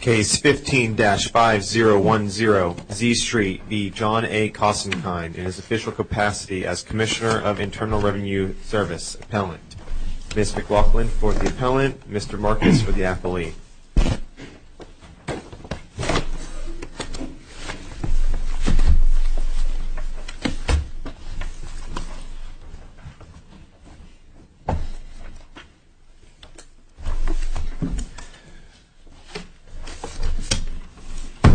Case 15-5010, Z Street v. John A. Koskinen in his official capacity as Commissioner of Internal Revenue Service Appellant. Ms. McLaughlin for the appellant, Mr. Marcus for the appellee.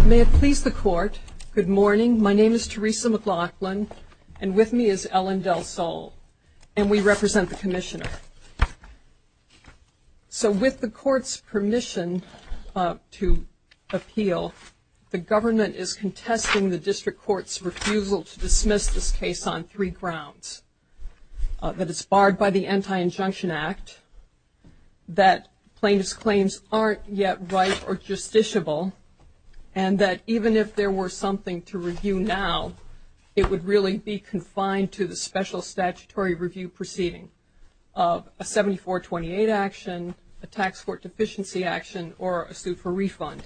May it please the Court, good morning, my name is Teresa McLaughlin, and with me is Ellen Del Sol, and we represent the Commissioner. So with the Court's permission to appeal, the government is contesting the District Court's refusal to dismiss this case on three grounds. That it's barred by the Anti-Injunction Act, that plaintiff's claims aren't yet right or justiciable, and that even if there were something to review now, it would really be confined to the special statutory review proceeding of a 74-28 action, a tax court deficiency action, or a suit for refund.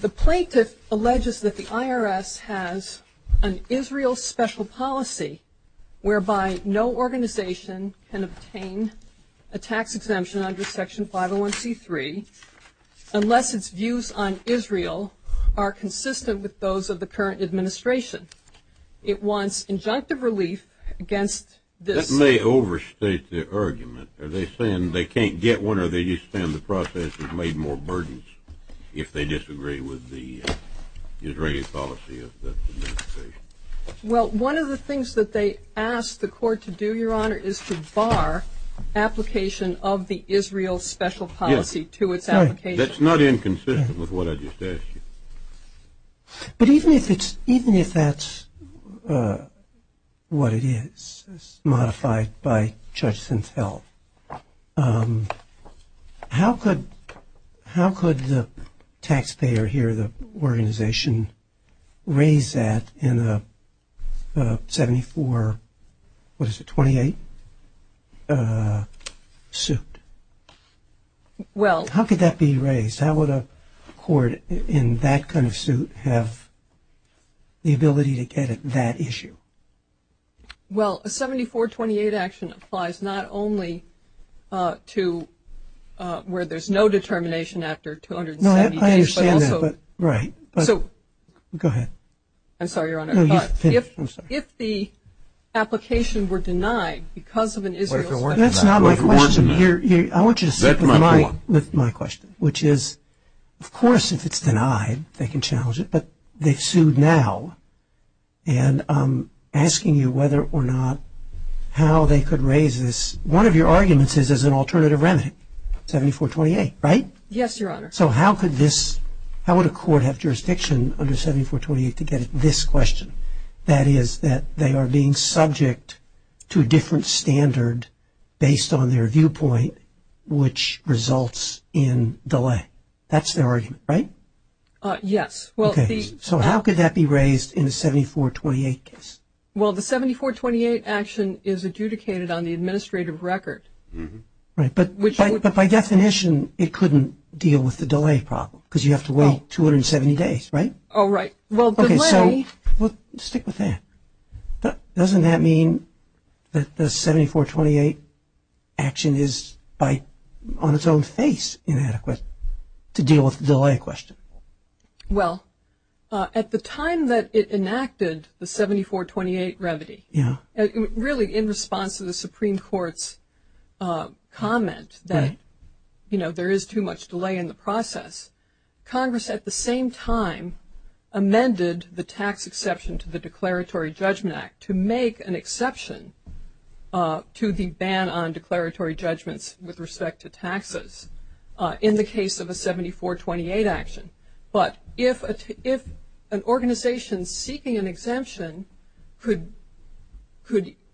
The plaintiff alleges that the IRS has an Israel special policy whereby no organization can obtain a tax exemption under Section 501c3 unless its views on Israel are consistent with those of the current administration. It wants injunctive relief against this. This may overstate the argument. Are they saying they can't get one, or are they just saying the process is made more burdensome if they disagree with the Israeli policy of the administration? Well, one of the things that they asked the Court to do, Your Honor, is to bar application of the Israel special policy to its application. That's not inconsistent with what I just asked you. But even if that's what it is, modified by Judge Sintel, how could the taxpayer here, the organization, raise that in a 74-28 suit? How could that be raised? How would a court in that kind of suit have the ability to get at that issue? Well, a 74-28 action applies not only to where there's no determination after 270 days, but also – No, I understand that. Right. So – Go ahead. I'm sorry, Your Honor. I'm sorry. If the application were denied because of an Israel – That's not my question. I want you to sit with my question, which is, of course, if it's denied, they can challenge it, but they've sued now, and I'm asking you whether or not how they could raise this. One of your arguments is as an alternative remedy, 74-28, right? Yes, Your Honor. So how could this – how would a court have jurisdiction under 74-28 to get at this question, that is, that they are being subject to a different standard based on their viewpoint, which results in delay? That's their argument, right? Yes. Okay. So how could that be raised in a 74-28 case? Well, the 74-28 action is adjudicated on the administrative record. Right. But by definition, it couldn't deal with the delay problem because you have to wait 270 days, right? Oh, right. Okay, so stick with that. Doesn't that mean that the 74-28 action is, on its own face, inadequate to deal with the delay question? Well, at the time that it enacted the 74-28 remedy, really in response to the Supreme Court's comment that, you know, there is too much delay in the process, Congress at the same time amended the tax exception to the Declaratory Judgment Act to make an exception to the ban on declaratory judgments with respect to taxes in the case of a 74-28 action. But if an organization seeking an exemption could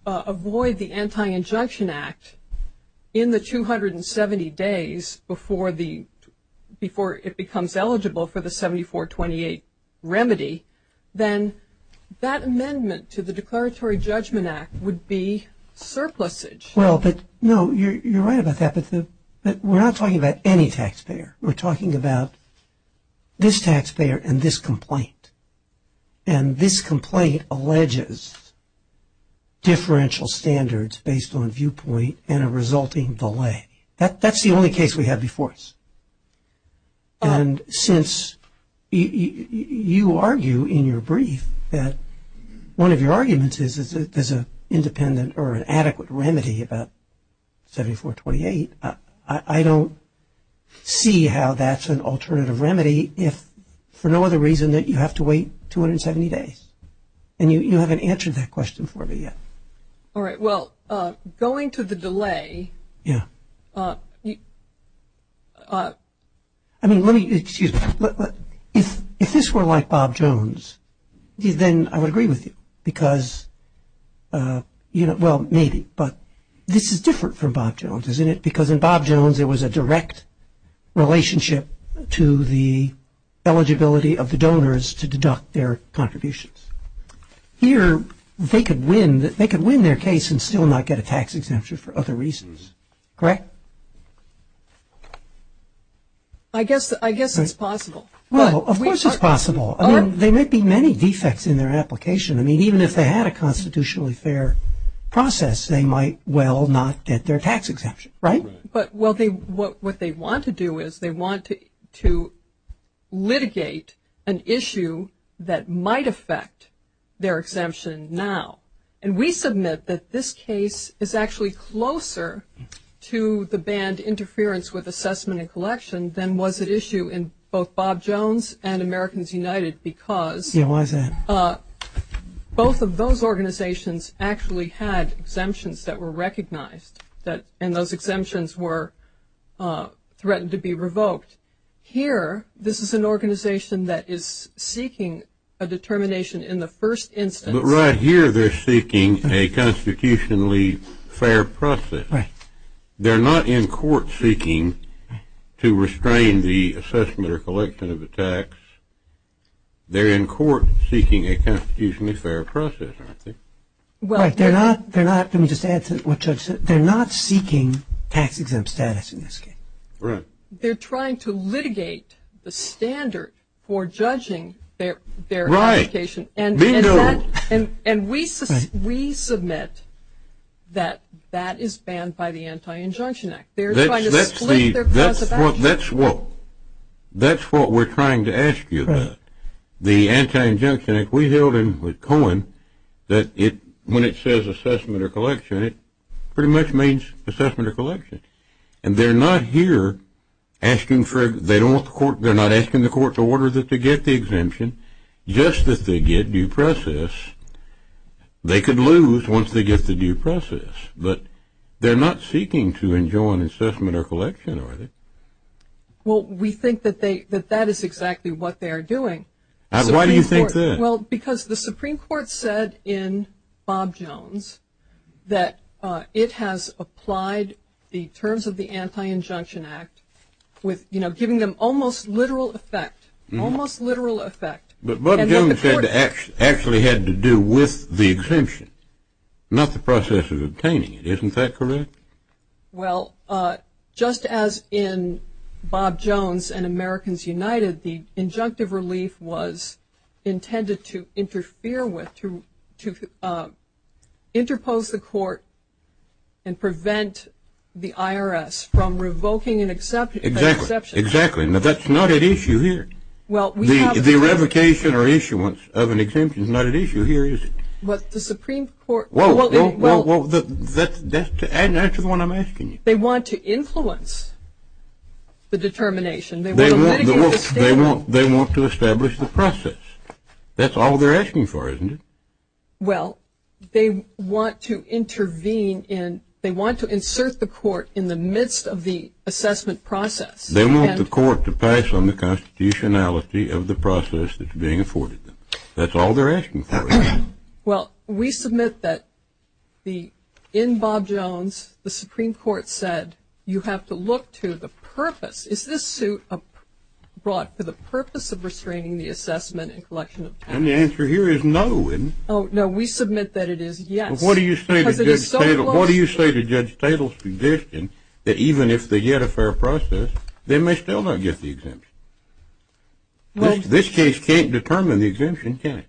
avoid the Anti-Injunction Act in the 270 days before it becomes eligible for the 74-28 remedy, then that amendment to the Declaratory Judgment Act would be surplusage. Well, no, you're right about that. But we're not talking about any taxpayer. We're talking about this taxpayer and this complaint. And this complaint alleges differential standards based on viewpoint and a resulting delay. That's the only case we have before us. And since you argue in your brief that one of your arguments is that there's an adequate remedy about 74-28, I don't see how that's an alternative remedy if for no other reason that you have to wait 270 days. And you haven't answered that question for me yet. All right. Well, going to the delay. Yeah. I mean, let me, excuse me. If this were like Bob Jones, then I would agree with you because, you know, well, maybe. But this is different from Bob Jones, isn't it? Because in Bob Jones it was a direct relationship to the eligibility of the donors to deduct their contributions. Here they could win their case and still not get a tax exemption for other reasons. Correct? I guess it's possible. Well, of course it's possible. I mean, there may be many defects in their application. I mean, even if they had a constitutionally fair process, they might well not get their tax exemption. Right? But what they want to do is they want to litigate an issue that might affect their exemption now. And we submit that this case is actually closer to the banned interference with assessment and collection than was at issue in both Bob Jones and Americans United because. Yeah, why is that? Both of those organizations actually had exemptions that were recognized, and those exemptions were threatened to be revoked. Here, this is an organization that is seeking a determination in the first instance. But right here they're seeking a constitutionally fair process. Right. They're not in court seeking to restrain the assessment or collection of the tax. They're in court seeking a constitutionally fair process, aren't they? Right. Let me just add to what Judge said. They're not seeking tax exempt status in this case. Right. They're trying to litigate the standard for judging their application. Right. And we submit that that is banned by the Anti-Injunction Act. That's what we're trying to ask you about. The Anti-Injunction Act, we held in Cohen that when it says assessment or collection, it pretty much means assessment or collection. And they're not here asking for it. They're not asking the court to order them to get the exemption. Just that they get due process, they could lose once they get the due process. But they're not seeking to enjoin assessment or collection, are they? Well, we think that that is exactly what they are doing. Why do you think that? Well, because the Supreme Court said in Bob Jones that it has applied the terms of the Anti-Injunction Act with, you know, giving them almost literal effect, almost literal effect. But Bob Jones said it actually had to do with the exemption, not the process of obtaining it. Isn't that correct? Well, just as in Bob Jones and Americans United, the injunctive relief was intended to interfere with, to interpose the court and prevent the IRS from revoking an exemption. Exactly. Now, that's not at issue here. The revocation or issuance of an exemption is not at issue here, is it? Well, the Supreme Court. Well, that's the one I'm asking you. They want to influence the determination. They want to establish the process. That's all they're asking for, isn't it? Well, they want to intervene in, they want to insert the court in the midst of the assessment process. They want the court to pass on the constitutionality of the process that's being afforded them. That's all they're asking for. Well, we submit that in Bob Jones the Supreme Court said you have to look to the purpose. Is this suit brought for the purpose of restraining the assessment and collection of taxes? And the answer here is no. Oh, no, we submit that it is yes. What do you say to Judge Tatel's suggestion that even if they get a fair process, they may still not get the exemption? This case can't determine the exemption, can it?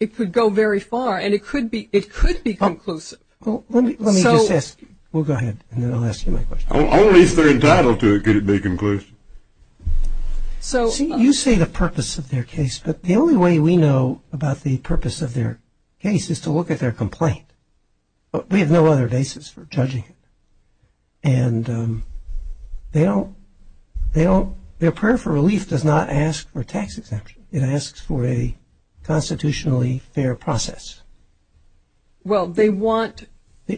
It could go very far, and it could be conclusive. Let me just ask. We'll go ahead, and then I'll ask you my question. Only if they're entitled to it could it be conclusive. So you say the purpose of their case, but the only way we know about the purpose of their case is to look at their complaint. We have no other basis for judging it. And they don't, their prayer for relief does not ask for a tax exemption. It asks for a constitutionally fair process. Well, they want, they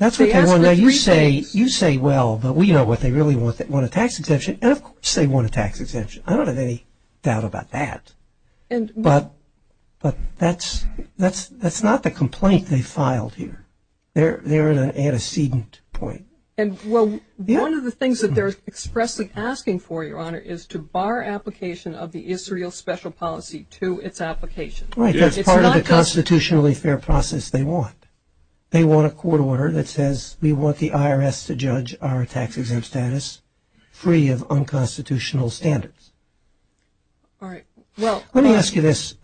ask for three things. You say, well, but we know what they really want, they want a tax exemption. And, of course, they want a tax exemption. I don't have any doubt about that. But that's not the complaint they filed here. They're at an antecedent point. Well, one of the things that they're expressly asking for, Your Honor, is to bar application of the Israel special policy to its application. Right, that's part of the constitutionally fair process they want. They want a court order that says we want the IRS to judge our tax exempt status free of unconstitutional standards. All right. Well, let me ask you this.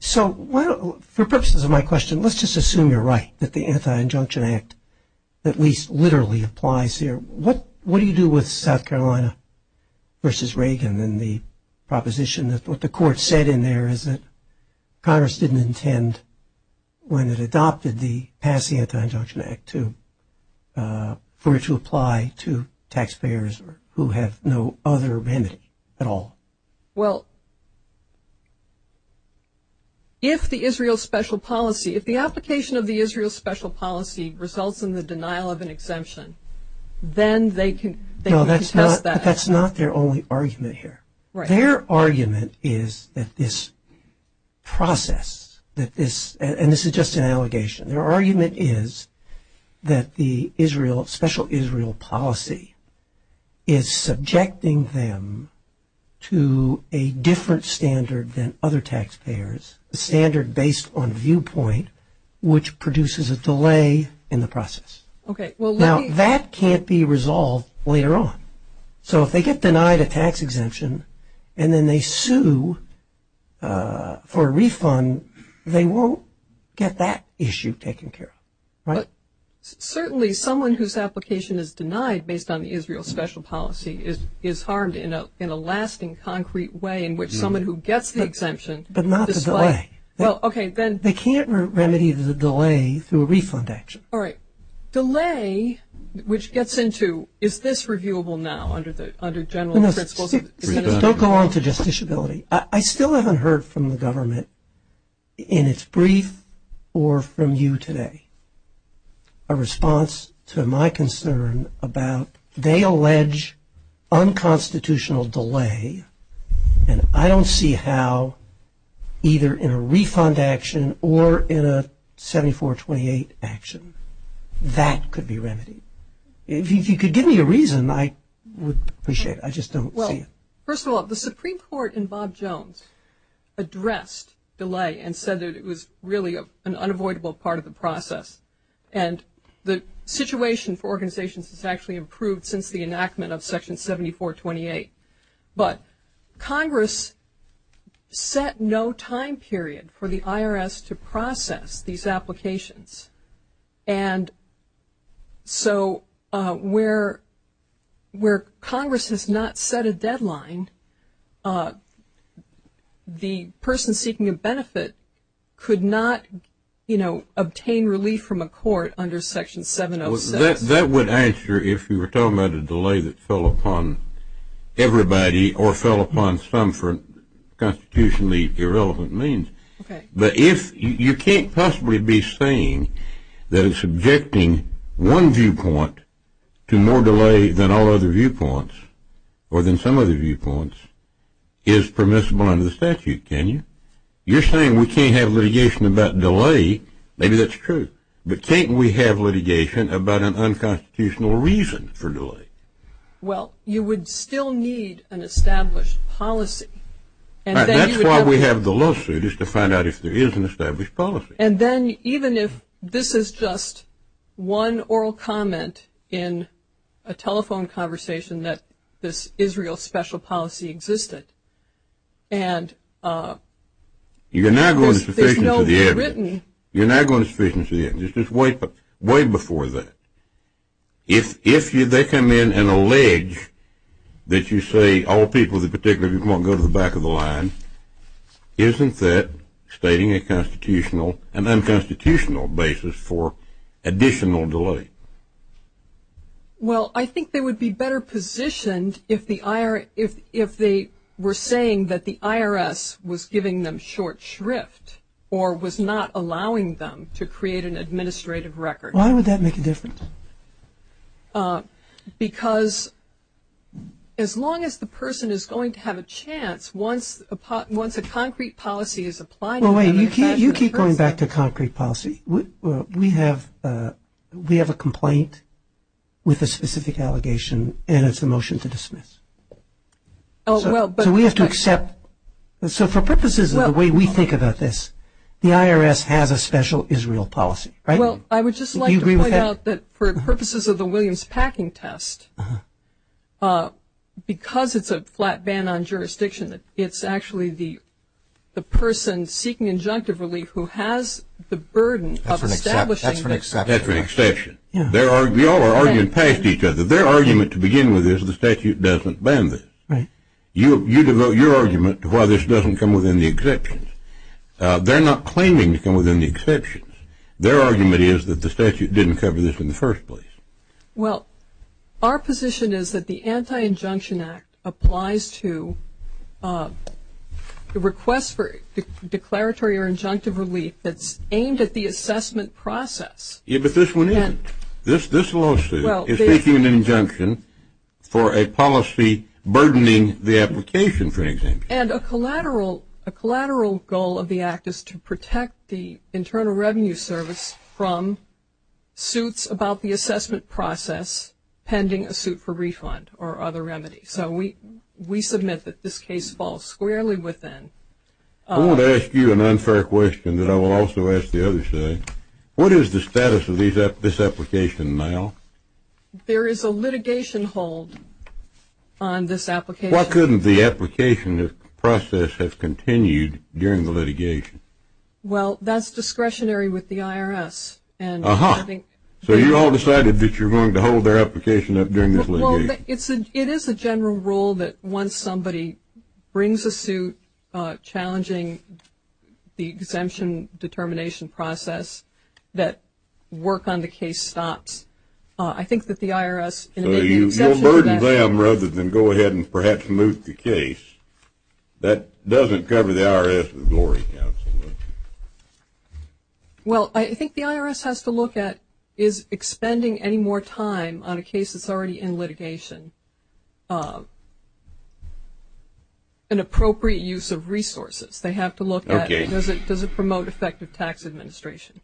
So for purposes of my question, let's just assume you're right that the Anti-Injunction Act at least literally applies here. What do you do with South Carolina versus Reagan and the proposition that what the court said in there is that Congress didn't intend, when it adopted the pass the Anti-Injunction Act, for it to apply to taxpayers who have no other remedy at all? Well, if the Israel special policy, if the application of the Israel special policy results in the denial of an exemption, then they can contest that. That's not their only argument here. Their argument is that this process, and this is just an allegation, their argument is that the special Israel policy is subjecting them to a different standard than other taxpayers, a standard based on viewpoint which produces a delay in the process. Now, that can't be resolved later on. So if they get denied a tax exemption and then they sue for a refund, they won't get that issue taken care of. Certainly someone whose application is denied based on the Israel special policy is harmed in a lasting, concrete way in which someone who gets the exemption But not the delay. They can't remedy the delay through a refund action. All right. Delay, which gets into is this reviewable now under general principles? Don't go on to justiciability. I still haven't heard from the government in its brief or from you today a response to my concern about They allege unconstitutional delay and I don't see how either in a refund action or in a 7428 action that could be remedied. If you could give me a reason, I would appreciate it. I just don't see it. First of all, the Supreme Court in Bob Jones addressed delay and said that it was really an unavoidable part of the process. And the situation for organizations has actually improved since the enactment of Section 7428. But Congress set no time period for the IRS to process these applications. And so where Congress has not set a deadline, the person seeking a benefit could not, you know, obtain relief from a court under Section 706. That would answer if you were talking about a delay that fell upon everybody or fell upon some for constitutionally irrelevant means. But if you can't possibly be saying that it's subjecting one viewpoint to more delay than all other viewpoints or than some other viewpoints is permissible under the statute, can you? You're saying we can't have litigation about delay. Maybe that's true. But can't we have litigation about an unconstitutional reason for delay? Well, you would still need an established policy. That's why we have the lawsuit is to find out if there is an established policy. And then even if this is just one oral comment in a telephone conversation that this is real special policy existed and there's no written. You're not going to sufficiently evidence. You're not going to sufficiently evidence. It's just way before that. If they come in and allege that you say all people, particularly if you want to go to the back of the line, isn't that stating a constitutional and unconstitutional basis for additional delay? Well, I think they would be better positioned if they were saying that the IRS was giving them short shrift or was not allowing them to create an administrative record. Why would that make a difference? Because as long as the person is going to have a chance once a concrete policy is applied. Well, wait. You keep going back to concrete policy. We have a complaint with a specific allegation and it's a motion to dismiss. So we have to accept. So for purposes of the way we think about this, the IRS has a special Israel policy, right? Well, I would just like to point out that for purposes of the Williams packing test, because it's a flat ban on jurisdiction, it's actually the person seeking injunctive relief who has the burden of establishing that. That's an exception. That's an exception. We all are arguing past each other. Their argument to begin with is the statute doesn't ban this. Right. You devote your argument to why this doesn't come within the exceptions. They're not claiming to come within the exceptions. Their argument is that the statute didn't cover this in the first place. Well, our position is that the Anti-Injunction Act applies to the request for declaratory or injunctive relief that's aimed at the assessment process. Yeah, but this one isn't. This lawsuit is seeking an injunction for a policy burdening the application, for example. And a collateral goal of the act is to protect the Internal Revenue Service from suits about the assessment process pending a suit for refund or other remedies. So we submit that this case falls squarely within. I want to ask you an unfair question that I will also ask the other side. What is the status of this application now? There is a litigation hold on this application. Why couldn't the application process have continued during the litigation? Well, that's discretionary with the IRS. Aha. So you all decided that you're going to hold their application up during this litigation. Well, it is a general rule that once somebody brings a suit challenging the exemption determination process that work on the case stops. I think that the IRS So you'll burden them rather than go ahead and perhaps move the case. That doesn't cover the IRS with Glory Counsel. Well, I think the IRS has to look at is expending any more time on a case that's already in litigation an appropriate use of resources. They have to look at does it promote effective tax administration.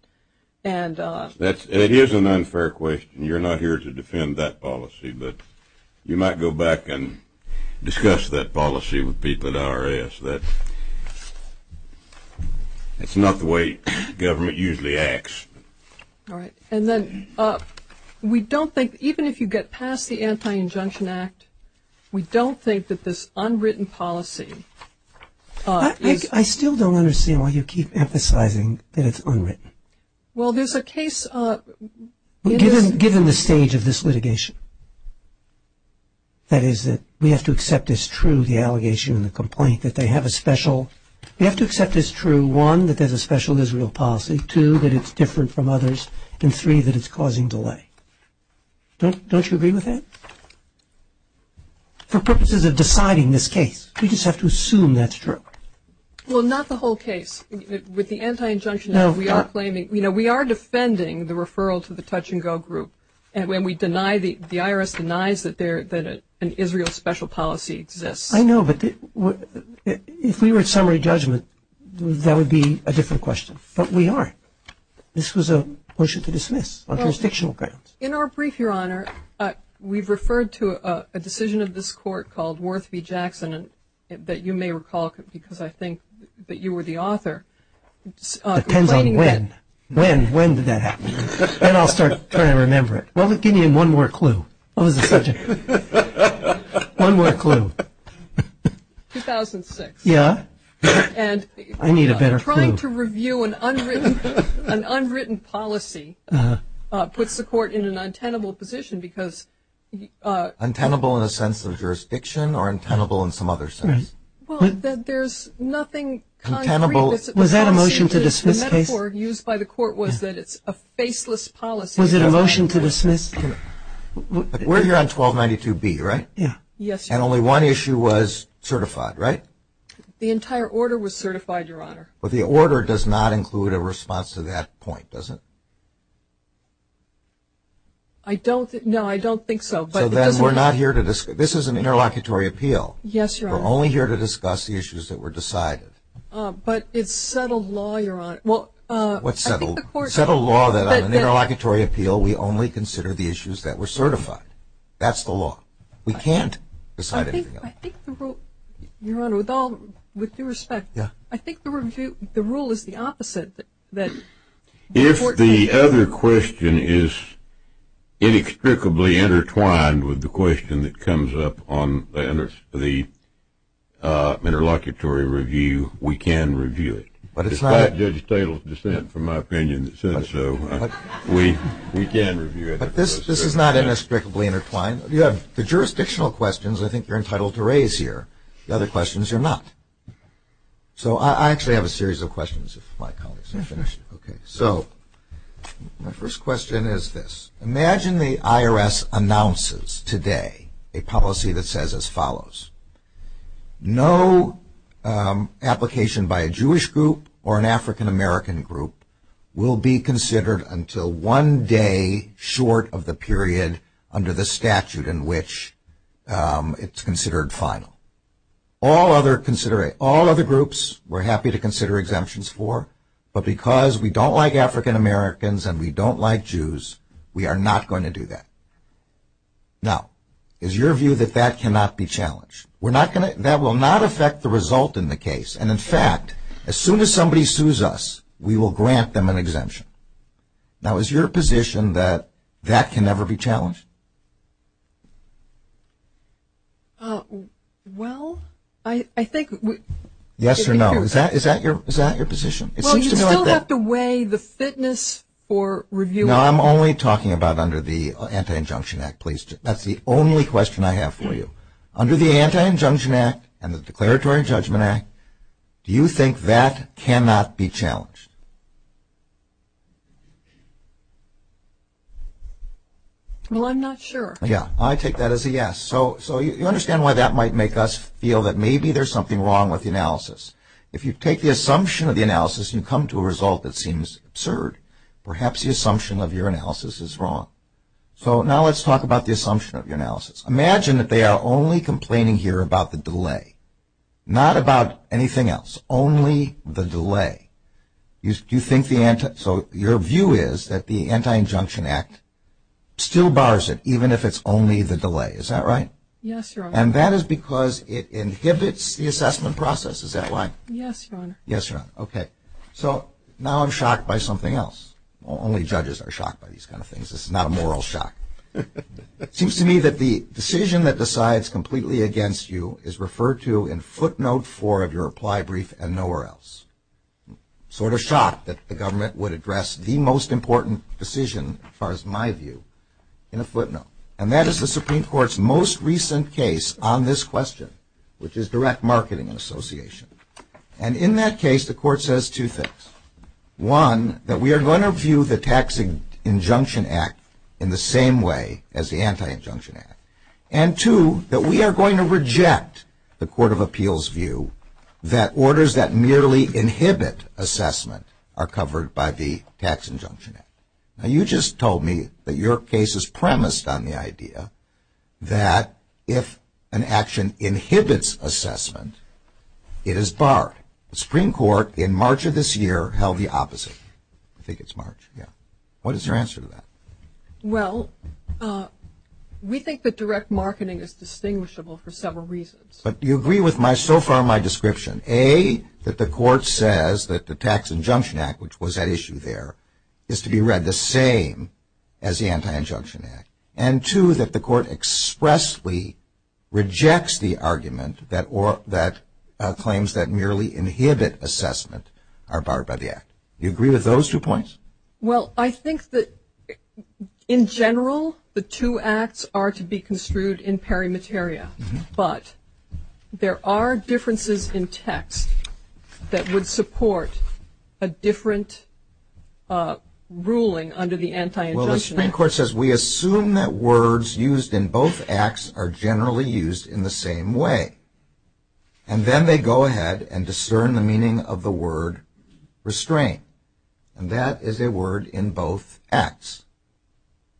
It is an unfair question. You're not here to defend that policy. But you might go back and discuss that policy with people at IRS. That's not the way government usually acts. All right. And then we don't think even if you get past the Anti-Injunction Act, we don't think that this unwritten policy is I still don't understand why you keep emphasizing that it's unwritten. Well, there's a case Given the stage of this litigation, that is that we have to accept as true the allegation and the complaint that they have a special we have to accept as true one, that there's a special Israel policy, two, that it's different from others, and three, that it's causing delay. Don't you agree with that? For purposes of deciding this case, we just have to assume that's true. Well, not the whole case. With the Anti-Injunction Act, we are claiming we are defending the referral to the touch-and-go group. And when we deny, the IRS denies that an Israel special policy exists. I know, but if we were at summary judgment, that would be a different question. But we aren't. This was a motion to dismiss on jurisdictional grounds. In our brief, Your Honor, we've referred to a decision of this court called Worth v. Jackson that you may recall because I think that you were the author. Depends on when. When did that happen? Then I'll start trying to remember it. Give me one more clue. What was the subject? One more clue. 2006. Yeah. I need a better clue. Trying to review an unwritten policy puts the court in an untenable position because the – Untenable in the sense of jurisdiction or untenable in some other sense? Well, there's nothing concrete. Was that a motion to dismiss case? The metaphor used by the court was that it's a faceless policy. Was it a motion to dismiss? We're here on 1292B, right? Yes, Your Honor. And only one issue was certified, right? The entire order was certified, Your Honor. But the order does not include a response to that point, does it? I don't – no, I don't think so. So then we're not here to – this is an interlocutory appeal. Yes, Your Honor. We're only here to discuss the issues that were decided. But it's settled law, Your Honor. What's settled? I think the court – It's settled law that on an interlocutory appeal we only consider the issues that were certified. That's the law. We can't decide anything else. I think the rule – Your Honor, with all – with due respect, I think the rule is the opposite. If the other question is inextricably intertwined with the question that comes up on the interlocutory review, we can review it. But it's not – Despite Judge Tatel's dissent from my opinion that says so, we can review it. But this is not inextricably intertwined. You have the jurisdictional questions I think you're entitled to raise here. The other questions you're not. So I actually have a series of questions if my colleagues have finished. Okay. So my first question is this. Imagine the IRS announces today a policy that says as follows. No application by a Jewish group or an African-American group will be considered until one day short of the period under the statute in which it's considered final. All other groups we're happy to consider exemptions for, but because we don't like African-Americans and we don't like Jews, we are not going to do that. Now, is your view that that cannot be challenged? We're not going to – That will not affect the result in the case. And, in fact, as soon as somebody sues us, we will grant them an exemption. Now, is your position that that can never be challenged? Well, I think – Yes or no? Is that your position? Well, you still have to weigh the fitness for review. No, I'm only talking about under the Anti-Injunction Act. That's the only question I have for you. Under the Anti-Injunction Act and the Declaratory Judgment Act, do you think that cannot be challenged? Well, I'm not sure. Yeah, I take that as a yes. So you understand why that might make us feel that maybe there's something wrong with the analysis. If you take the assumption of the analysis and you come to a result that seems absurd, perhaps the assumption of your analysis is wrong. So now let's talk about the assumption of your analysis. Imagine that they are only complaining here about the delay, not about anything else, only the delay. So your view is that the Anti-Injunction Act still bars it, even if it's only the delay. Is that right? Yes, Your Honor. And that is because it inhibits the assessment process. Is that right? Yes, Your Honor. Yes, Your Honor. Okay. So now I'm shocked by something else. Only judges are shocked by these kind of things. This is not a moral shock. It seems to me that the decision that decides completely against you is referred to in footnote four of your reply brief and nowhere else. Sort of shocked that the government would address the most important decision, as far as my view, in a footnote. And that is the Supreme Court's most recent case on this question, which is direct marketing and association. And in that case, the Court says two things. One, that we are going to view the Tax Injunction Act in the same way as the Anti-Injunction Act. And two, that we are going to reject the Court of Appeals' view that orders that merely inhibit assessment are covered by the Tax Injunction Act. Now, you just told me that your case is premised on the idea that if an action inhibits assessment, it is barred. The Supreme Court, in March of this year, held the opposite. I think it's March. Yeah. What is your answer to that? Well, we think that direct marketing is distinguishable for several reasons. But you agree with so far my description. A, that the Court says that the Tax Injunction Act, which was at issue there, is to be read the same as the Anti-Injunction Act. And two, that the Court expressly rejects the argument that claims that merely inhibit assessment are barred by the Act. Do you agree with those two points? Well, I think that, in general, the two Acts are to be construed in peri materia. But there are differences in text that would support a different ruling under the Anti-Injunction Act. Well, the Supreme Court says we assume that words used in both Acts are generally used in the same way. And then they go ahead and discern the meaning of the word restrain. And that is a word in both Acts.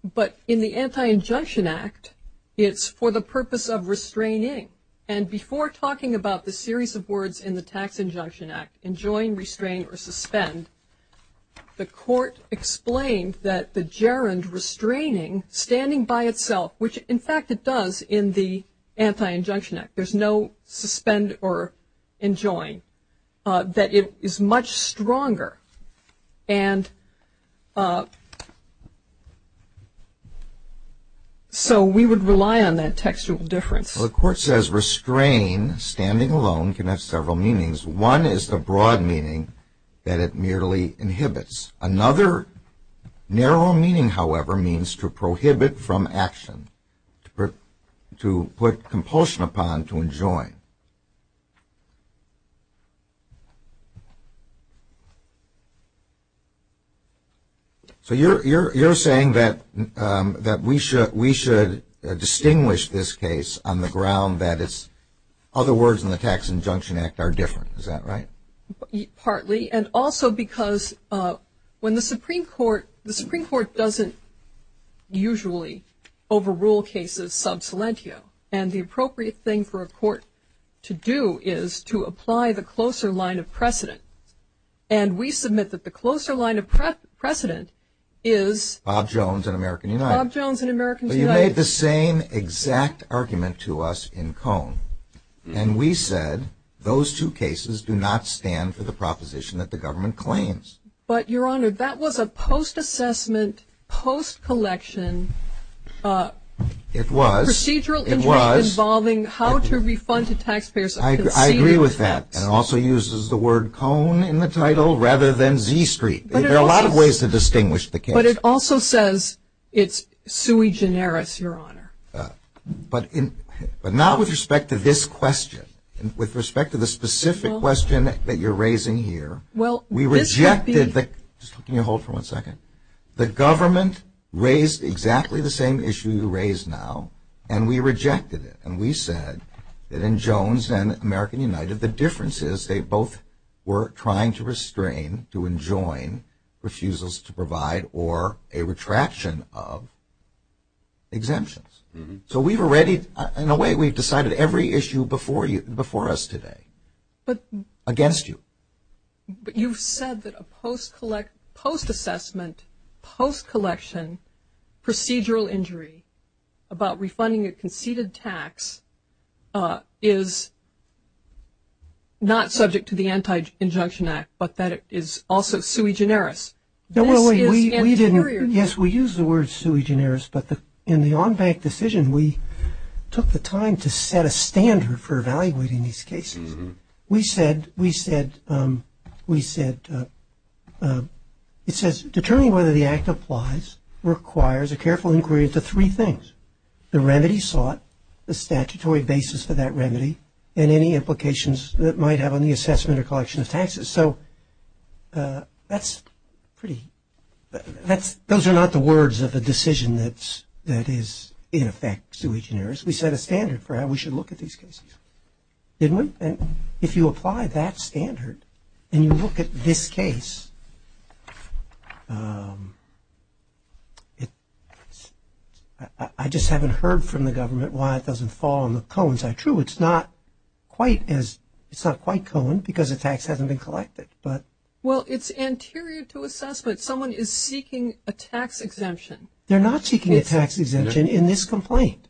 But in the Anti-Injunction Act, it's for the purpose of restraining. And before talking about the series of words in the Tax Injunction Act, enjoin, restrain, or suspend, the Court explained that the gerund restraining, standing by itself, which, in fact, it does in the Anti-Injunction Act. There's no suspend or enjoin. That it is much stronger. And so we would rely on that textual difference. Well, the Court says restrain, standing alone, can have several meanings. One is the broad meaning that it merely inhibits. Another narrow meaning, however, means to prohibit from action. To put compulsion upon to enjoin. So you're saying that we should distinguish this case on the ground that it's other words in the Tax Injunction Act are different. Is that right? Partly. And also because when the Supreme Court, the Supreme Court doesn't usually overrule cases sub silentio. And we submit that the closer line of precedent is. Bob Jones and American United. Bob Jones and American United. But you made the same exact argument to us in Cone. And we said those two cases do not stand for the proposition that the government claims. But, Your Honor, that was a post-assessment, post-collection. It was. Procedural interest. It was. Involving how to refund to taxpayers. I agree with that. And it also uses the word Cone in the title rather than Z Street. There are a lot of ways to distinguish the case. But it also says it's sui generis, Your Honor. But not with respect to this question. With respect to the specific question that you're raising here. Well, this could be. Can you hold for one second? The government raised exactly the same issue you raised now, and we rejected it. And we said that in Jones and American United, the difference is they both were trying to restrain, to enjoin, refusals to provide or a retraction of exemptions. So we've already, in a way, we've decided every issue before us today. But. Against you. But you've said that a post-assessment, post-collection, procedural injury, about refunding a conceded tax is not subject to the Anti-Injunction Act, but that it is also sui generis. Yes, we use the word sui generis. But in the on-bank decision, we took the time to set a standard for evaluating these cases. We said, we said, we said, it says, Determining whether the act applies requires a careful inquiry into three things. The remedy sought, the statutory basis for that remedy, and any implications that it might have on the assessment or collection of taxes. So that's pretty, those are not the words of a decision that is in effect sui generis. We set a standard for how we should look at these cases. Didn't we? If you apply that standard and you look at this case, I just haven't heard from the government why it doesn't fall on the cones. True, it's not quite as, it's not quite coned because the tax hasn't been collected, but. Well, it's anterior to assessment. Someone is seeking a tax exemption. They're not seeking a tax exemption in this complaint.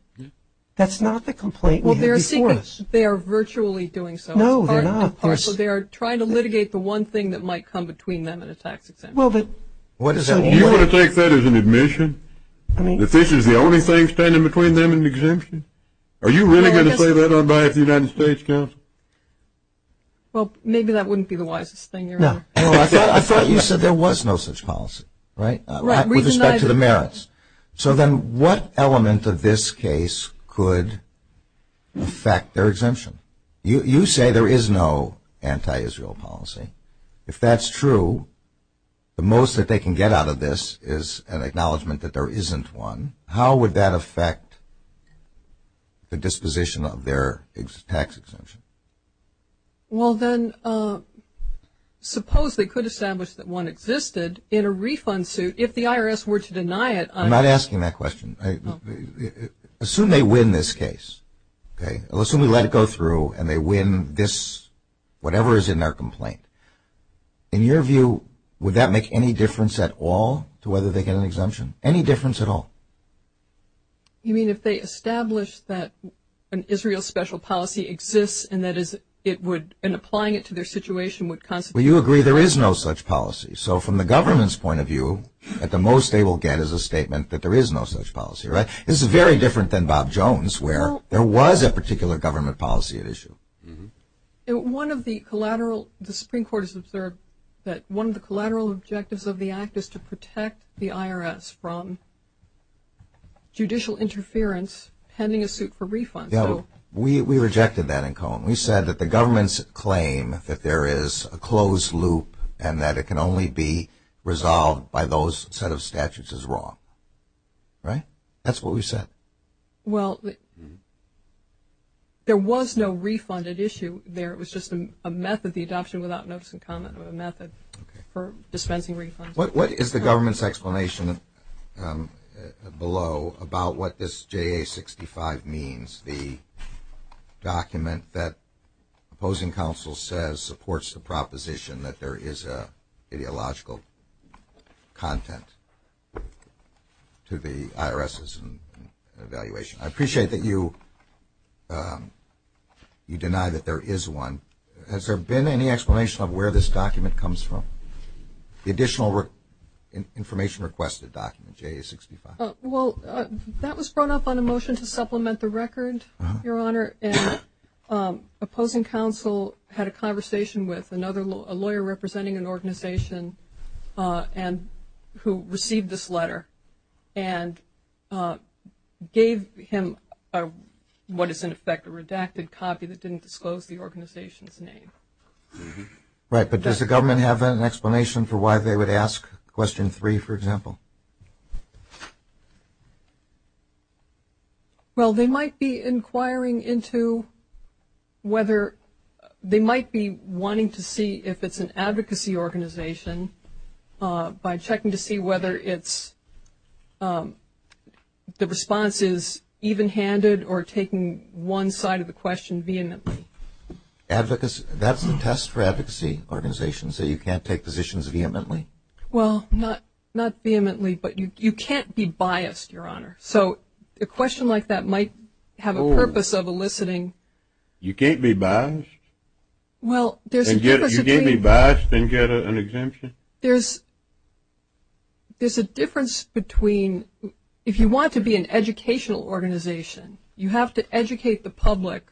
That's not the complaint we had before us. Well, they are virtually doing so. No, they're not. They are trying to litigate the one thing that might come between them and a tax exemption. Well, but. You want to take that as an admission? I mean. That this is the only thing standing between them and an exemption? Are you really going to say that on behalf of the United States Council? Well, maybe that wouldn't be the wisest thing. No. I thought you said there was no such policy, right? Right. With respect to the merits. So then what element of this case could affect their exemption? You say there is no anti-Israel policy. If that's true, the most that they can get out of this is an acknowledgement that there isn't one. How would that affect the disposition of their tax exemption? Well, then, suppose they could establish that one existed in a refund suit. If the IRS were to deny it. I'm not asking that question. Assume they win this case. Okay. Assume they let it go through and they win this, whatever is in their complaint. In your view, would that make any difference at all to whether they get an exemption? Any difference at all? You mean if they establish that an Israel special policy exists and that is it would, in applying it to their situation, would constitute. Well, you agree there is no such policy. So from the government's point of view, at the most they will get is a statement that there is no such policy, right? This is very different than Bob Jones where there was a particular government policy at issue. One of the collateral, the Supreme Court has observed that one of the collateral objectives of the act is to protect the IRS from judicial interference pending a suit for refund. We rejected that in Cohen. We said that the government's claim that there is a closed loop and that it can only be resolved by those set of statutes is wrong. Right? That's what we said. Well, there was no refund at issue there. It was just a method, the adoption without notice and comment method for dispensing refunds. What is the government's explanation below about what this JA-65 means, the document that opposing counsel says supports the proposition that there is ideological content to the IRS's evaluation? I appreciate that you deny that there is one. Has there been any explanation of where this document comes from? The additional information requested document, JA-65. Well, that was brought up on a motion to supplement the record, Your Honor, and opposing counsel had a conversation with another lawyer representing an organization who received this letter and gave him what is in effect a redacted copy that didn't disclose the organization's name. Right, but does the government have an explanation for why they would ask question three, for example? Well, they might be inquiring into whether they might be wanting to see if it's an advocacy organization by checking to see whether the response is even-handed or taking one side of the question vehemently. That's a test for advocacy organizations, that you can't take positions vehemently? Well, not vehemently, but you can't be biased, Your Honor. So a question like that might have a purpose of eliciting. You can't be biased? You can't be biased and get an exemption? There's a difference between if you want to be an educational organization, you have to educate the public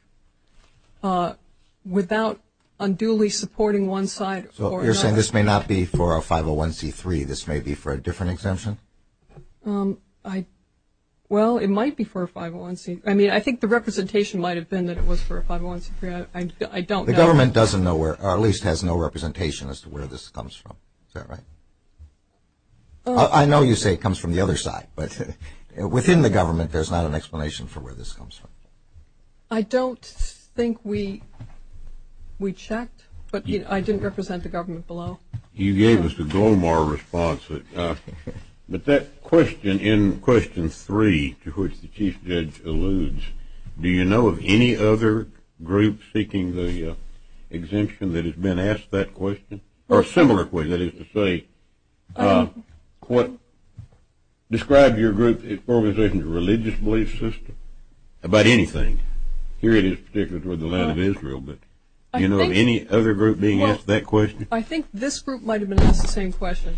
without unduly supporting one side or another. So you're saying this may not be for a 501C3. This may be for a different exemption? Well, it might be for a 501C. I mean, I think the representation might have been that it was for a 501C3. I don't know. The government doesn't know or at least has no representation as to where this comes from. Is that right? I know you say it comes from the other side, but within the government there's not an explanation for where this comes from. I don't think we checked, but I didn't represent the government below. You gave us a global response. But that question in question three to which the Chief Judge alludes, do you know of any other group seeking the exemption that has been asked that question? Or a similar question, that is to say, describe your group's organization's religious belief system about anything. Here it is particularly toward the land of Israel. Do you know of any other group being asked that question? I think this group might have been asked the same question.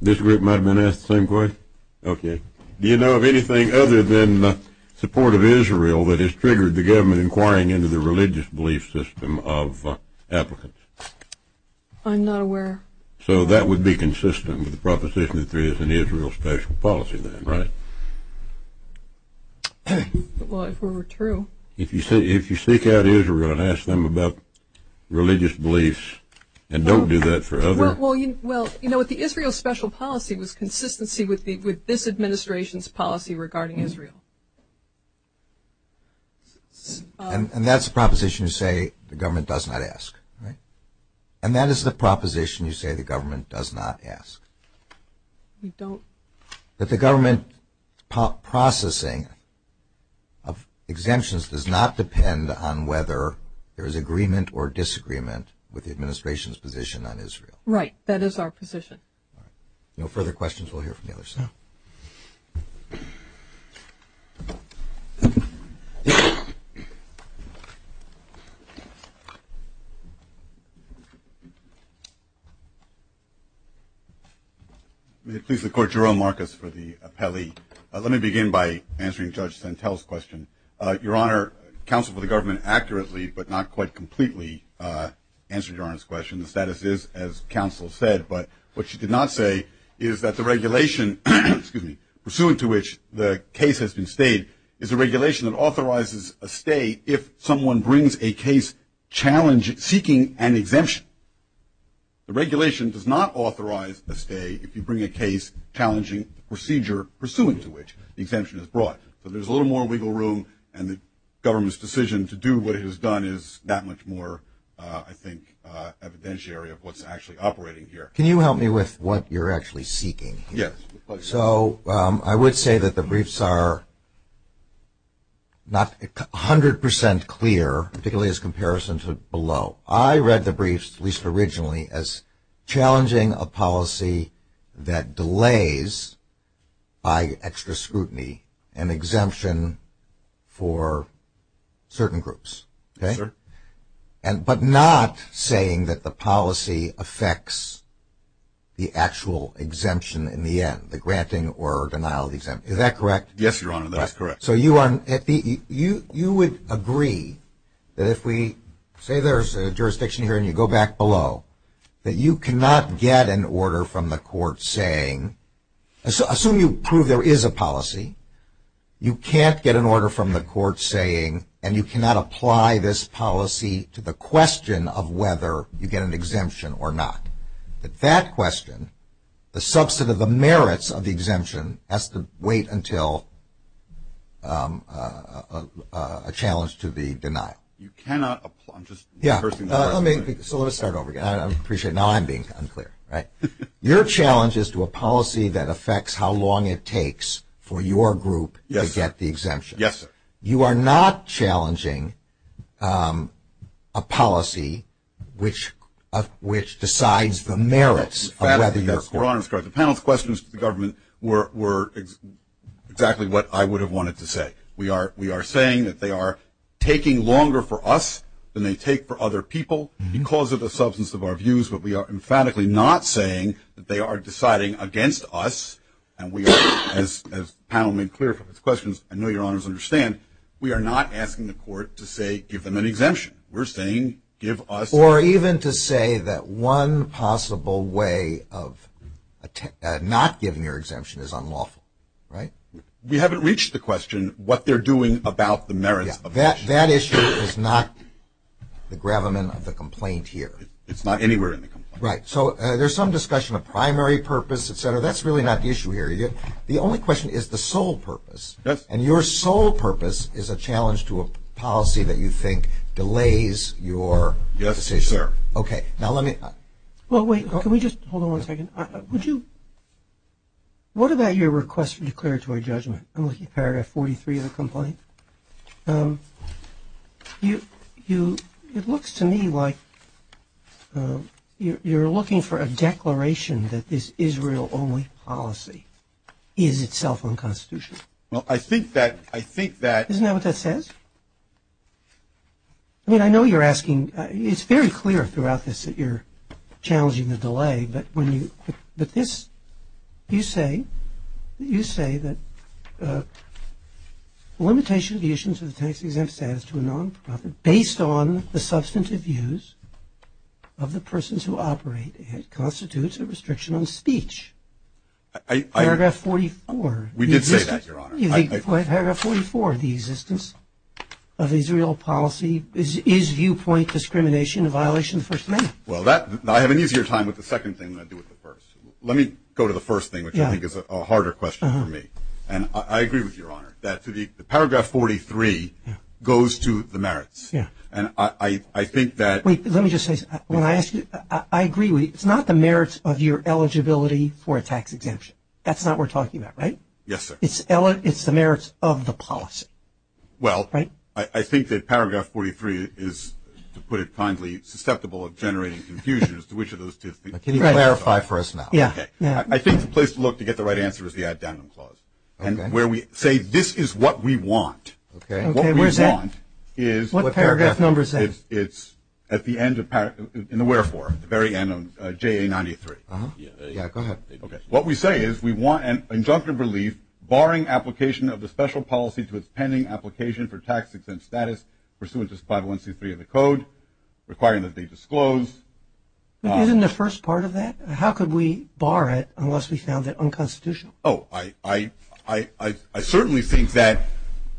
This group might have been asked the same question? Okay. Do you know of anything other than support of Israel that has triggered the government inquiring into the religious belief system of applicants? I'm not aware. So that would be consistent with the proposition that there is an Israel special policy then, right? Well, if it were true. If you seek out Israel and ask them about religious beliefs and don't do that for others. Well, you know, the Israel special policy was consistency with this administration's policy regarding Israel. And that's a proposition you say the government does not ask, right? And that is the proposition you say the government does not ask. We don't. But the government processing of exemptions does not depend on whether there is agreement or disagreement with the administration's position on Israel. Right. That is our position. All right. No further questions. We'll hear from the other side. May it please the Court, Jerome Marcus for the appellee. Let me begin by answering Judge Santel's question. Your Honor, counsel for the government accurately but not quite completely answered Your Honor's question. The status is as counsel said. But what she did not say is that the regulation, excuse me, pursuant to which the case has been stayed is a regulation that authorizes a stay if someone brings a case seeking an exemption. The regulation does not authorize a stay if you bring a case challenging the procedure pursuant to which the exemption is brought. So there's a little more wiggle room, and the government's decision to do what it has done is that much more, I think, evidentiary of what's actually operating here. Can you help me with what you're actually seeking? Yes. So I would say that the briefs are not 100% clear, particularly as comparison to below. I read the briefs, at least originally, as challenging a policy that delays by extra scrutiny an exemption for certain groups. Yes, sir. But not saying that the policy affects the actual exemption in the end, the granting or denial of the exemption. Is that correct? Yes, Your Honor, that is correct. So you would agree that if we say there's a jurisdiction here and you go back below, that you cannot get an order from the court saying, assume you prove there is a policy, you can't get an order from the court saying, and you cannot apply this policy to the question of whether you get an exemption or not. That question, the subset of the merits of the exemption has to wait until a challenge to the denial. You cannot apply. So let me start over again. I appreciate now I'm being unclear. Your challenge is to a policy that affects how long it takes for your group to get the exemption. Yes, sir. You are not challenging a policy which decides the merits of whether you're a court. Your Honor, the panel's questions to the government were exactly what I would have wanted to say. We are saying that they are taking longer for us than they take for other people because of the substance of our views, but we are emphatically not saying that they are deciding against us. And we are, as the panel made clear from its questions, I know your Honors understand, we are not asking the court to say give them an exemption. We're saying give us. Or even to say that one possible way of not giving your exemption is unlawful, right? We haven't reached the question what they're doing about the merits of the exemption. That issue is not the gravamen of the complaint here. It's not anywhere in the complaint. Right. So there's some discussion of primary purpose, et cetera. That's really not the issue here. The only question is the sole purpose. Yes. And your sole purpose is a challenge to a policy that you think delays your decision. Yes, sir. Okay. Now let me – Well, wait. Can we just – hold on one second. I'm looking at paragraph 43 of the complaint. It looks to me like you're looking for a declaration that this Israel-only policy is itself unconstitutional. Well, I think that – Isn't that what that says? I mean, I know you're asking – it's very clear throughout this that you're challenging the delay. But when you – but this – you say that the limitation of the issuance of the tax-exempt status to a nonprofit based on the substantive views of the persons who operate it constitutes a restriction on speech. I – Paragraph 44. We did say that, Your Honor. Paragraph 44, the existence of Israel policy is viewpoint discrimination in violation of the First Amendment. Well, that – I have an easier time with the second thing than I do with the first. Let me go to the first thing, which I think is a harder question for me. And I agree with you, Your Honor, that the paragraph 43 goes to the merits. Yeah. And I think that – Wait. Let me just say something. When I ask you – I agree with you. It's not the merits of your eligibility for a tax exemption. That's not what we're talking about, right? Yes, sir. It's the merits of the policy. Well – Right? I think that paragraph 43 is, to put it kindly, susceptible of generating confusion as to which of those two – Can you clarify for us now? Yeah. Okay. I think the place to look to get the right answer is the addendum clause. Okay. And where we say this is what we want. Okay. What we want is – What paragraph number is that? It's at the end of – in the wherefore, the very end of JA93. Yeah, go ahead. Okay. What we say is we want an injunctive relief barring application of the special policy into its pending application for tax-exempt status pursuant to 5163 of the code requiring that they disclose. Isn't the first part of that? How could we bar it unless we found it unconstitutional? Oh, I certainly think that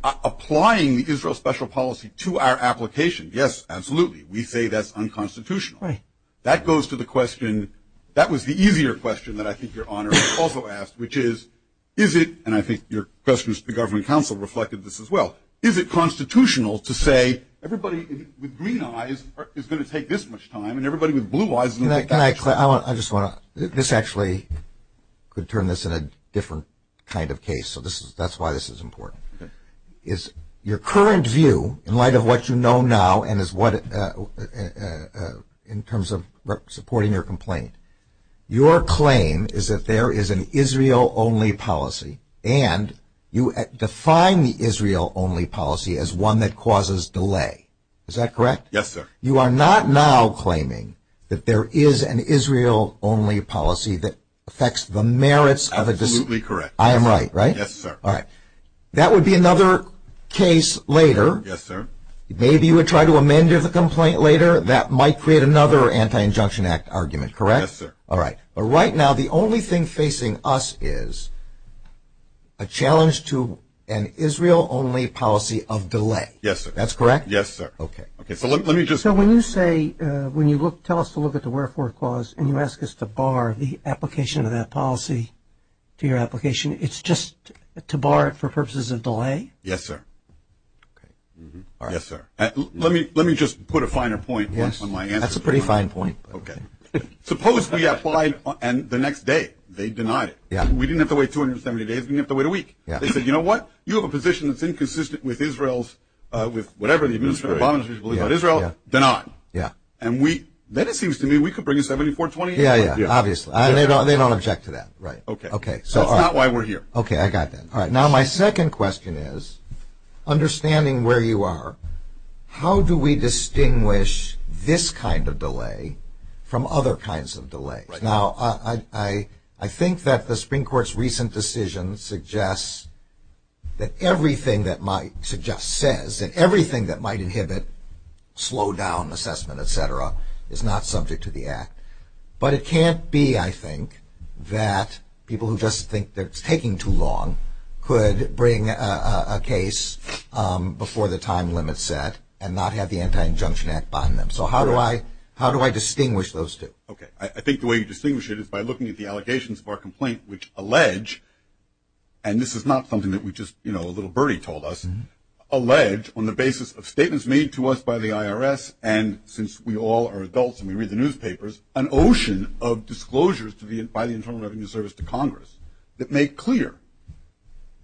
applying the Israel special policy to our application, yes, absolutely, we say that's unconstitutional. Right. That goes to the question – that was the easier question that I think Your Honor also asked, which is, is it – and I think your questions to the government counsel reflected this as well – is it constitutional to say everybody with green eyes is going to take this much time and everybody with blue eyes is going to take that much time? Can I – I just want to – this actually could turn this in a different kind of case. So that's why this is important. Okay. Is your current view in light of what you know now and is what – in terms of supporting your complaint, your claim is that there is an Israel-only policy and you define the Israel-only policy as one that causes delay. Is that correct? Yes, sir. You are not now claiming that there is an Israel-only policy that affects the merits of a – Absolutely correct. I am right, right? Yes, sir. All right. That would be another case later. Yes, sir. Maybe you would try to amend the complaint later. That might create another Anti-Injunction Act argument, correct? Yes, sir. All right. But right now the only thing facing us is a challenge to an Israel-only policy of delay. Yes, sir. That's correct? Yes, sir. Okay. Okay. So let me just – So when you say – when you look – tell us to look at the wherefore clause and you ask us to bar the application of that policy to your application, it's just to bar it for purposes of delay? Yes, sir. Okay. All right. Yes, sir. Let me just put a finer point on my answer. Yes. That's a pretty fine point. Okay. Suppose we applied and the next day they denied it. Yes. We didn't have to wait 270 days. We didn't have to wait a week. Yes. They said, you know what? You have a position that's inconsistent with Israel's – with whatever the administrator of the Obama Administration believes about Israel. Yes, yes. Denied. Yes. And we – then it seems to me we could bring a 7420- Yes, yes. Obviously. They don't object to that. Right. Okay. Okay. So all right. That's not why we're here. Okay. All right. I got that. All right. Now, my second question is, understanding where you are, how do we distinguish this kind of delay from other kinds of delays? Right. Now, I think that the Supreme Court's recent decision suggests that everything that might suggest – says that everything that might inhibit slowdown, assessment, et cetera, is not subject to the act. But it can't be, I think, that people who just think that it's taking too long could bring a case before the time limit's set and not have the Anti-Injunction Act bind them. So how do I – how do I distinguish those two? Okay. I think the way you distinguish it is by looking at the allegations of our complaint, which allege – and this is not something that we just, you know, a little birdie told us – allege on the basis of statements made to us by the IRS. And since we all are adults and we read the newspapers, an ocean of disclosures to be – by the Internal Revenue Service to Congress that make clear –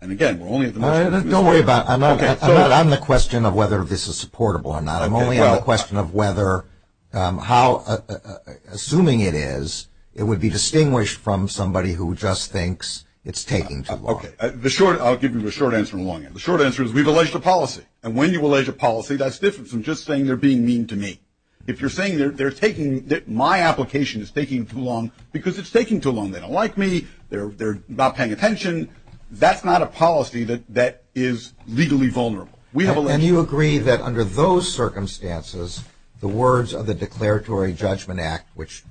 and again, we're only at the – Don't worry about it. I'm not – I'm not on the question of whether this is supportable or not. I'm only on the question of whether – how – assuming it is, it would be distinguished from somebody who just thinks it's taking too long. Okay. The short – I'll give you a short answer and a long answer. The short answer is we've alleged a policy. And when you allege a policy, that's different from just saying they're being mean to me. If you're saying they're taking – my application is taking too long because it's taking too long. They don't like me. They're not paying attention. That's not a policy that is legally vulnerable. We have alleged – And you agree that under those circumstances, the words of the Declaratory Judgment Act, which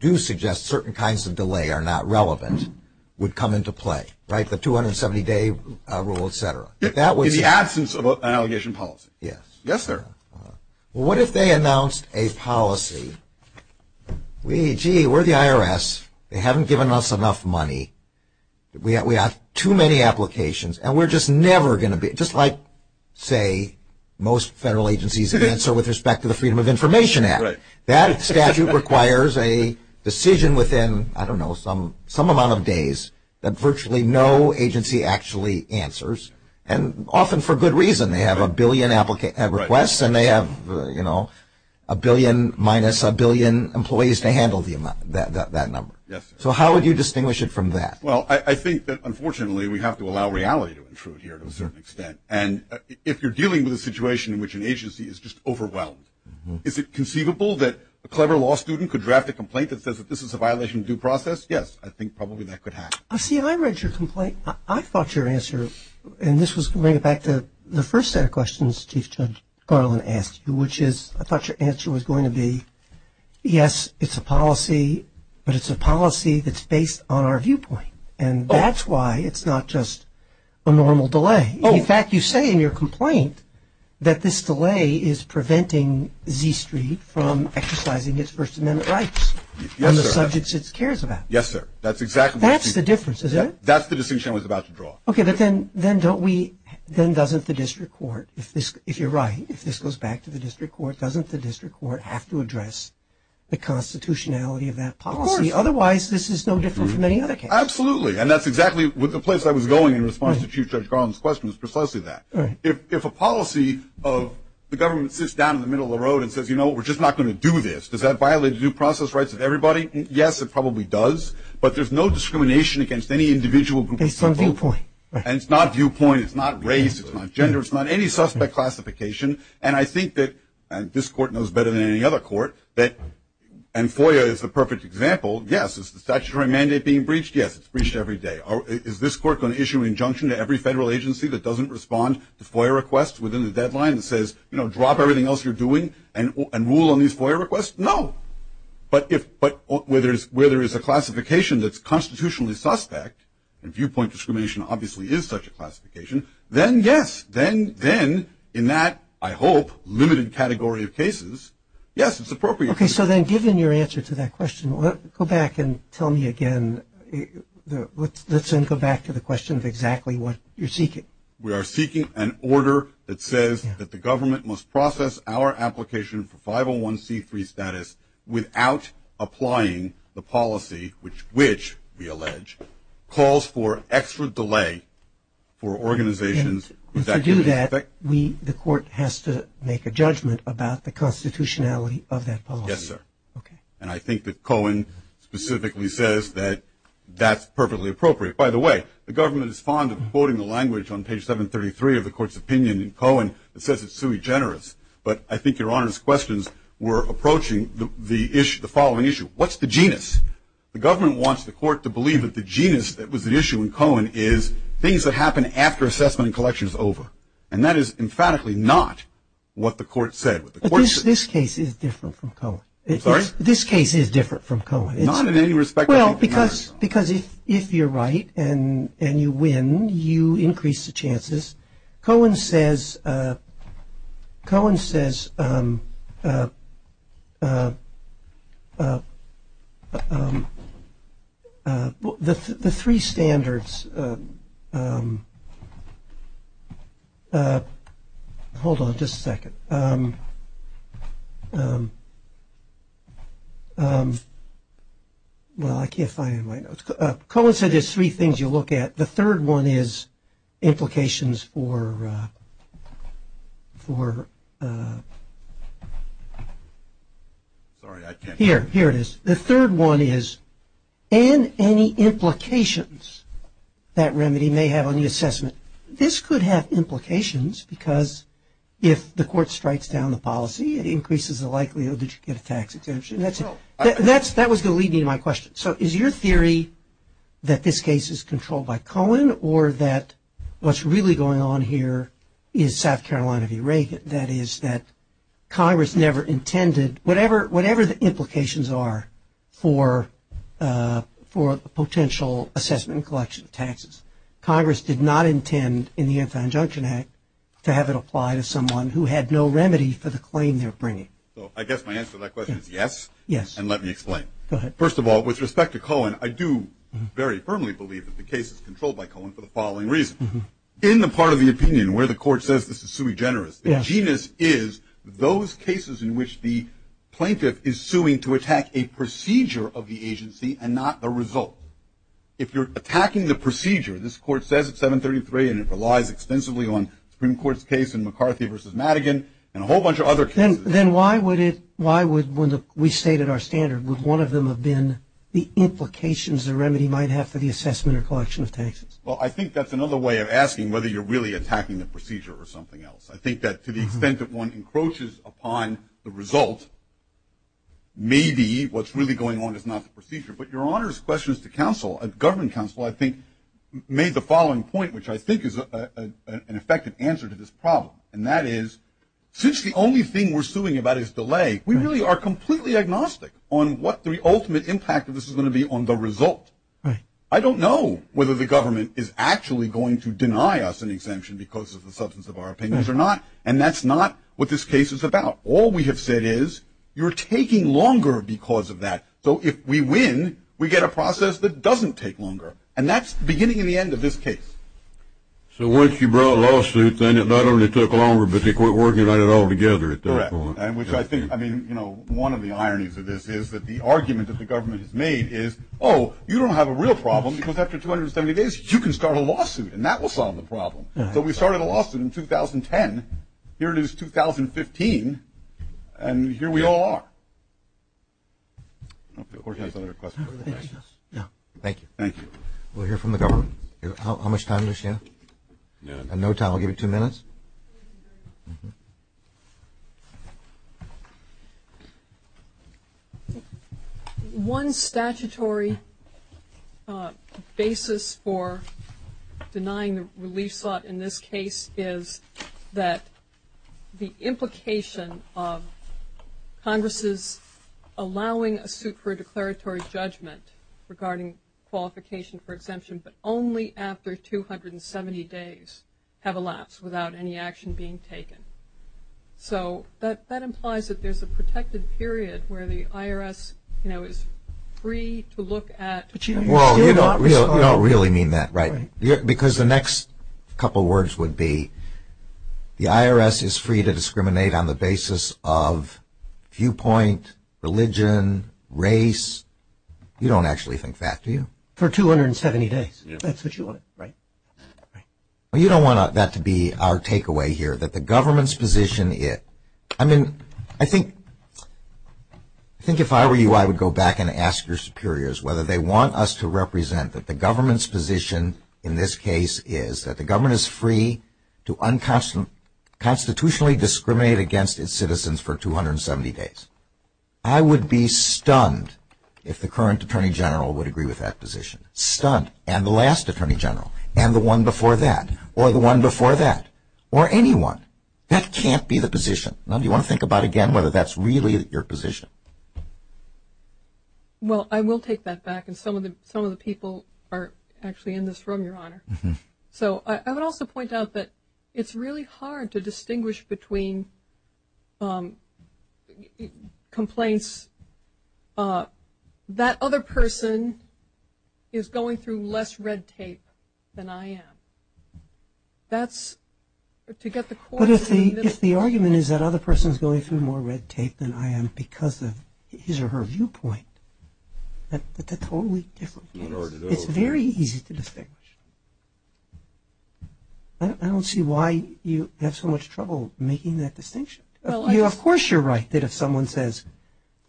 do suggest certain kinds of delay are not relevant, would come into play, right? The 270-day rule, et cetera. If that was – In the absence of an allegation policy. Yes. Yes, sir. Well, what if they announced a policy? We – gee, we're the IRS. They haven't given us enough money. We have too many applications. And we're just never going to be – just like, say, most federal agencies answer with respect to the Freedom of Information Act. Right. That statute requires a decision within, I don't know, some amount of days that virtually no agency actually answers, and often for good reason. They have a billion requests, and they have, you know, a billion minus a billion employees to handle that number. Yes, sir. So how would you distinguish it from that? Well, I think that, unfortunately, we have to allow reality to intrude here to a certain extent. And if you're dealing with a situation in which an agency is just overwhelmed, is it conceivable that a clever law student could draft a complaint that says that this is a violation of due process? Yes. I think probably that could happen. See, I read your complaint. I thought your answer – and this was to bring it back to the first set of questions Chief Judge Garland asked you, which is – I thought your answer was going to be, yes, it's a policy, but it's a policy that's based on our viewpoint. And that's why it's not just a normal delay. Oh. In fact, you say in your complaint that this delay is preventing Z Street from exercising its First Amendment rights. Yes, sir. On the subjects it cares about. Yes, sir. That's exactly what you – That's the difference, is it? That's the distinction I was about to draw. Okay. But then don't we – then doesn't the district court – if you're right, if this goes back to the district court, doesn't the district court have to address the constitutionality of that policy? Of course. Otherwise, this is no different from any other case. Absolutely. And that's exactly the place I was going in response to Chief Judge Garland's questions, precisely that. Right. If a policy of the government sits down in the middle of the road and says, you know, we're just not going to do this, does that violate the due process rights of everybody? Yes, it probably does. But there's no discrimination against any individual group of people. Based on viewpoint. And it's not viewpoint. It's not race. It's not gender. It's not any suspect classification. And I think that – and this court knows better than any other court that – and FOIA is the perfect example. Yes. Is the statutory mandate being breached? Yes. It's breached every day. Is this court going to issue an injunction to every federal agency that doesn't respond to FOIA requests within the deadline that says, you know, drop everything else you're doing and rule on these FOIA requests? No. But if – where there is a classification that's constitutionally suspect, and viewpoint discrimination obviously is such a classification, then yes. Then in that, I hope, limited category of cases, yes, it's appropriate. Okay. So then given your answer to that question, go back and tell me again – let's then go back to the question of exactly what you're seeking. We are seeking an order that says that the government must process our application for without applying the policy, which we allege, calls for extra delay for organizations with – And to do that, we – the court has to make a judgment about the constitutionality of that policy. Yes, sir. Okay. And I think that Cohen specifically says that that's perfectly appropriate. By the way, the government is fond of quoting the language on page 733 of the court's opinion in Cohen that says it's sui generis. But I think Your Honor's questions were approaching the following issue. What's the genus? The government wants the court to believe that the genus that was at issue in Cohen is things that happen after assessment and collection is over. And that is emphatically not what the court said. But this case is different from Cohen. I'm sorry? This case is different from Cohen. Not in any respect. Well, because if you're right and you win, you increase the chances. Cohen says – Cohen says the three standards – hold on just a second. Well, I can't find my notes. Cohen said there's three things you look at. The third one is implications for – here, here it is. The third one is and any implications that remedy may have on the assessment. This could have implications because if the court strikes down the policy, it increases the likelihood that you get a tax exemption. That was going to lead me to my question. So is your theory that this case is controlled by Cohen or that what's really going on here is South Carolina v. Reagan, that is that Congress never intended – whatever the implications are for potential assessment and collection of taxes, Congress did not intend in the Anti-Injunction Act to have it apply to someone who had no remedy for the claim they're bringing. So I guess my answer to that question is yes. Yes. And let me explain. Go ahead. First of all, with respect to Cohen, I do very firmly believe that the case is controlled by Cohen for the following reason. In the part of the opinion where the court says this is sui generis, the genus is those cases in which the plaintiff is suing to attack a procedure of the agency and not the result. If you're attacking the procedure, this court says at 733 and it relies extensively on the Supreme Court's case in McCarthy v. Madigan and a whole bunch of other cases. Then why would it – why would – when we stated our standard, would one of them have been the implications the remedy might have for the assessment or collection of taxes? Well, I think that's another way of asking whether you're really attacking the procedure or something else. I think that to the extent that one encroaches upon the result, maybe what's really going on is not the procedure. But Your Honor's question is to counsel. Government counsel, I think, made the following point, which I think is an effective answer to this problem, and that is since the only thing we're suing about is delay, we really are completely agnostic on what the ultimate impact of this is going to be on the result. I don't know whether the government is actually going to deny us an exemption because of the substance of our opinions or not, and that's not what this case is about. All we have said is you're taking longer because of that. So if we win, we get a process that doesn't take longer. And that's the beginning and the end of this case. So once you brought a lawsuit, then it not only took longer, but they quit working on it altogether at that point. Correct. And which I think, I mean, you know, one of the ironies of this is that the argument that the government has made is, oh, you don't have a real problem because after 270 days, you can start a lawsuit, and that will solve the problem. So we started a lawsuit in 2010. Here it is 2015, and here we all are. Of course, you have some other questions. Thank you. Thank you. We'll hear from the government. How much time does she have? No time. I'll give you two minutes. One statutory basis for denying the relief slot in this case is that the implication of Congress's allowing a suit for a declaratory judgment regarding qualification for exemption, but only after 270 days have elapsed without any action being taken. So that implies that there's a protected period where the IRS, you know, is free to look at. Well, you don't really mean that, right? Because the next couple words would be the IRS is free to discriminate on the basis of viewpoint, religion, race. You don't actually think that, do you? For 270 days. That's what you want, right? Well, you don't want that to be our takeaway here, that the government's position is. I mean, I think if I were you, I would go back and ask your superiors whether they want us to represent that the government's position in this case is that the government is free to unconstitutionally discriminate against its citizens for 270 days. I would be stunned if the current Attorney General would agree with that position. Stunned. And the last Attorney General. And the one before that. Or the one before that. Or anyone. That can't be the position. Now, do you want to think about again whether that's really your position? Well, I will take that back. And some of the people are actually in this room, Your Honor. So I would also point out that it's really hard to distinguish between complaints, that other person is going through less red tape than I am. That's to get the core. But if the argument is that other person is going through more red tape than I am because of his or her viewpoint, that's a totally different case. It's very easy to distinguish. I don't see why you have so much trouble making that distinction. Of course you're right that if someone says,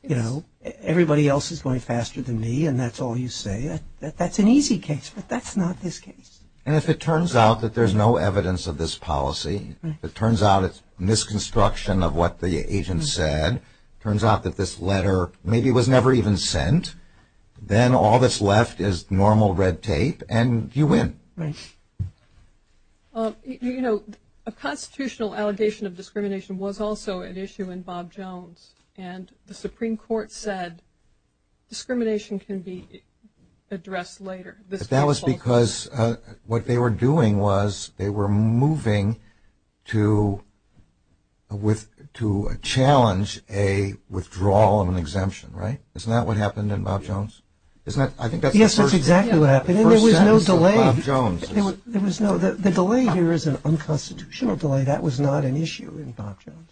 you know, everybody else is going faster than me and that's all you say, that's an easy case. But that's not this case. And if it turns out that there's no evidence of this policy, if it turns out it's misconstruction of what the agent said, turns out that this letter maybe was never even sent, then all that's left is normal red tape and you win. Right. You know, a constitutional allegation of discrimination was also an issue in Bob Jones. And the Supreme Court said discrimination can be addressed later. But that was because what they were doing was they were moving to challenge a withdrawal and an exemption, right? Isn't that what happened in Bob Jones? Yes, that's exactly what happened. And there was no delay. The delay here is an unconstitutional delay. That was not an issue in Bob Jones.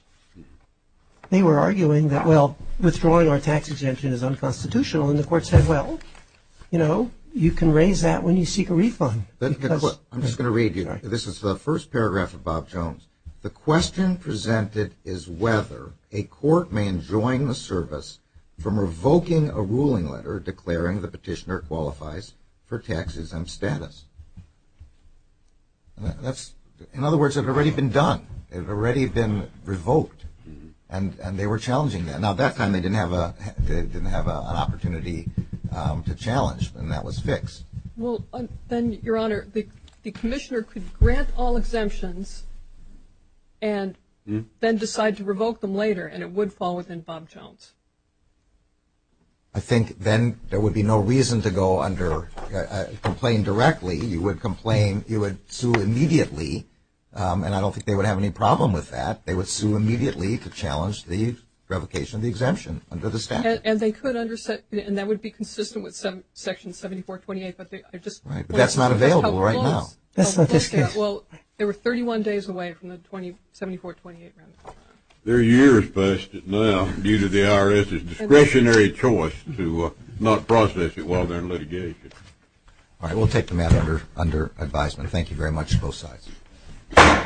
They were arguing that, well, withdrawing our tax exemption is unconstitutional, and the court said, well, you know, you can raise that when you seek a refund. I'm just going to read you. This is the first paragraph of Bob Jones. The question presented is whether a court may enjoin the service from revoking a ruling letter declaring the petitioner qualifies for taxes and status. In other words, it had already been done. It had already been revoked, and they were challenging that. Now, at that time they didn't have an opportunity to challenge, and that was fixed. Well, then, Your Honor, the commissioner could grant all exemptions and then decide to revoke them later, and it would fall within Bob Jones. I think then there would be no reason to go under complaint directly. You would sue immediately, and I don't think they would have any problem with that. They would sue immediately to challenge the revocation of the exemption under the statute. And that would be consistent with Section 7428. But that's not available right now. That's not this case. Well, they were 31 days away from the 7428. They're years past it now due to the IRS's discretionary choice to not process it while they're in litigation. All right, we'll take the matter under advisement. Thank you very much to both sides.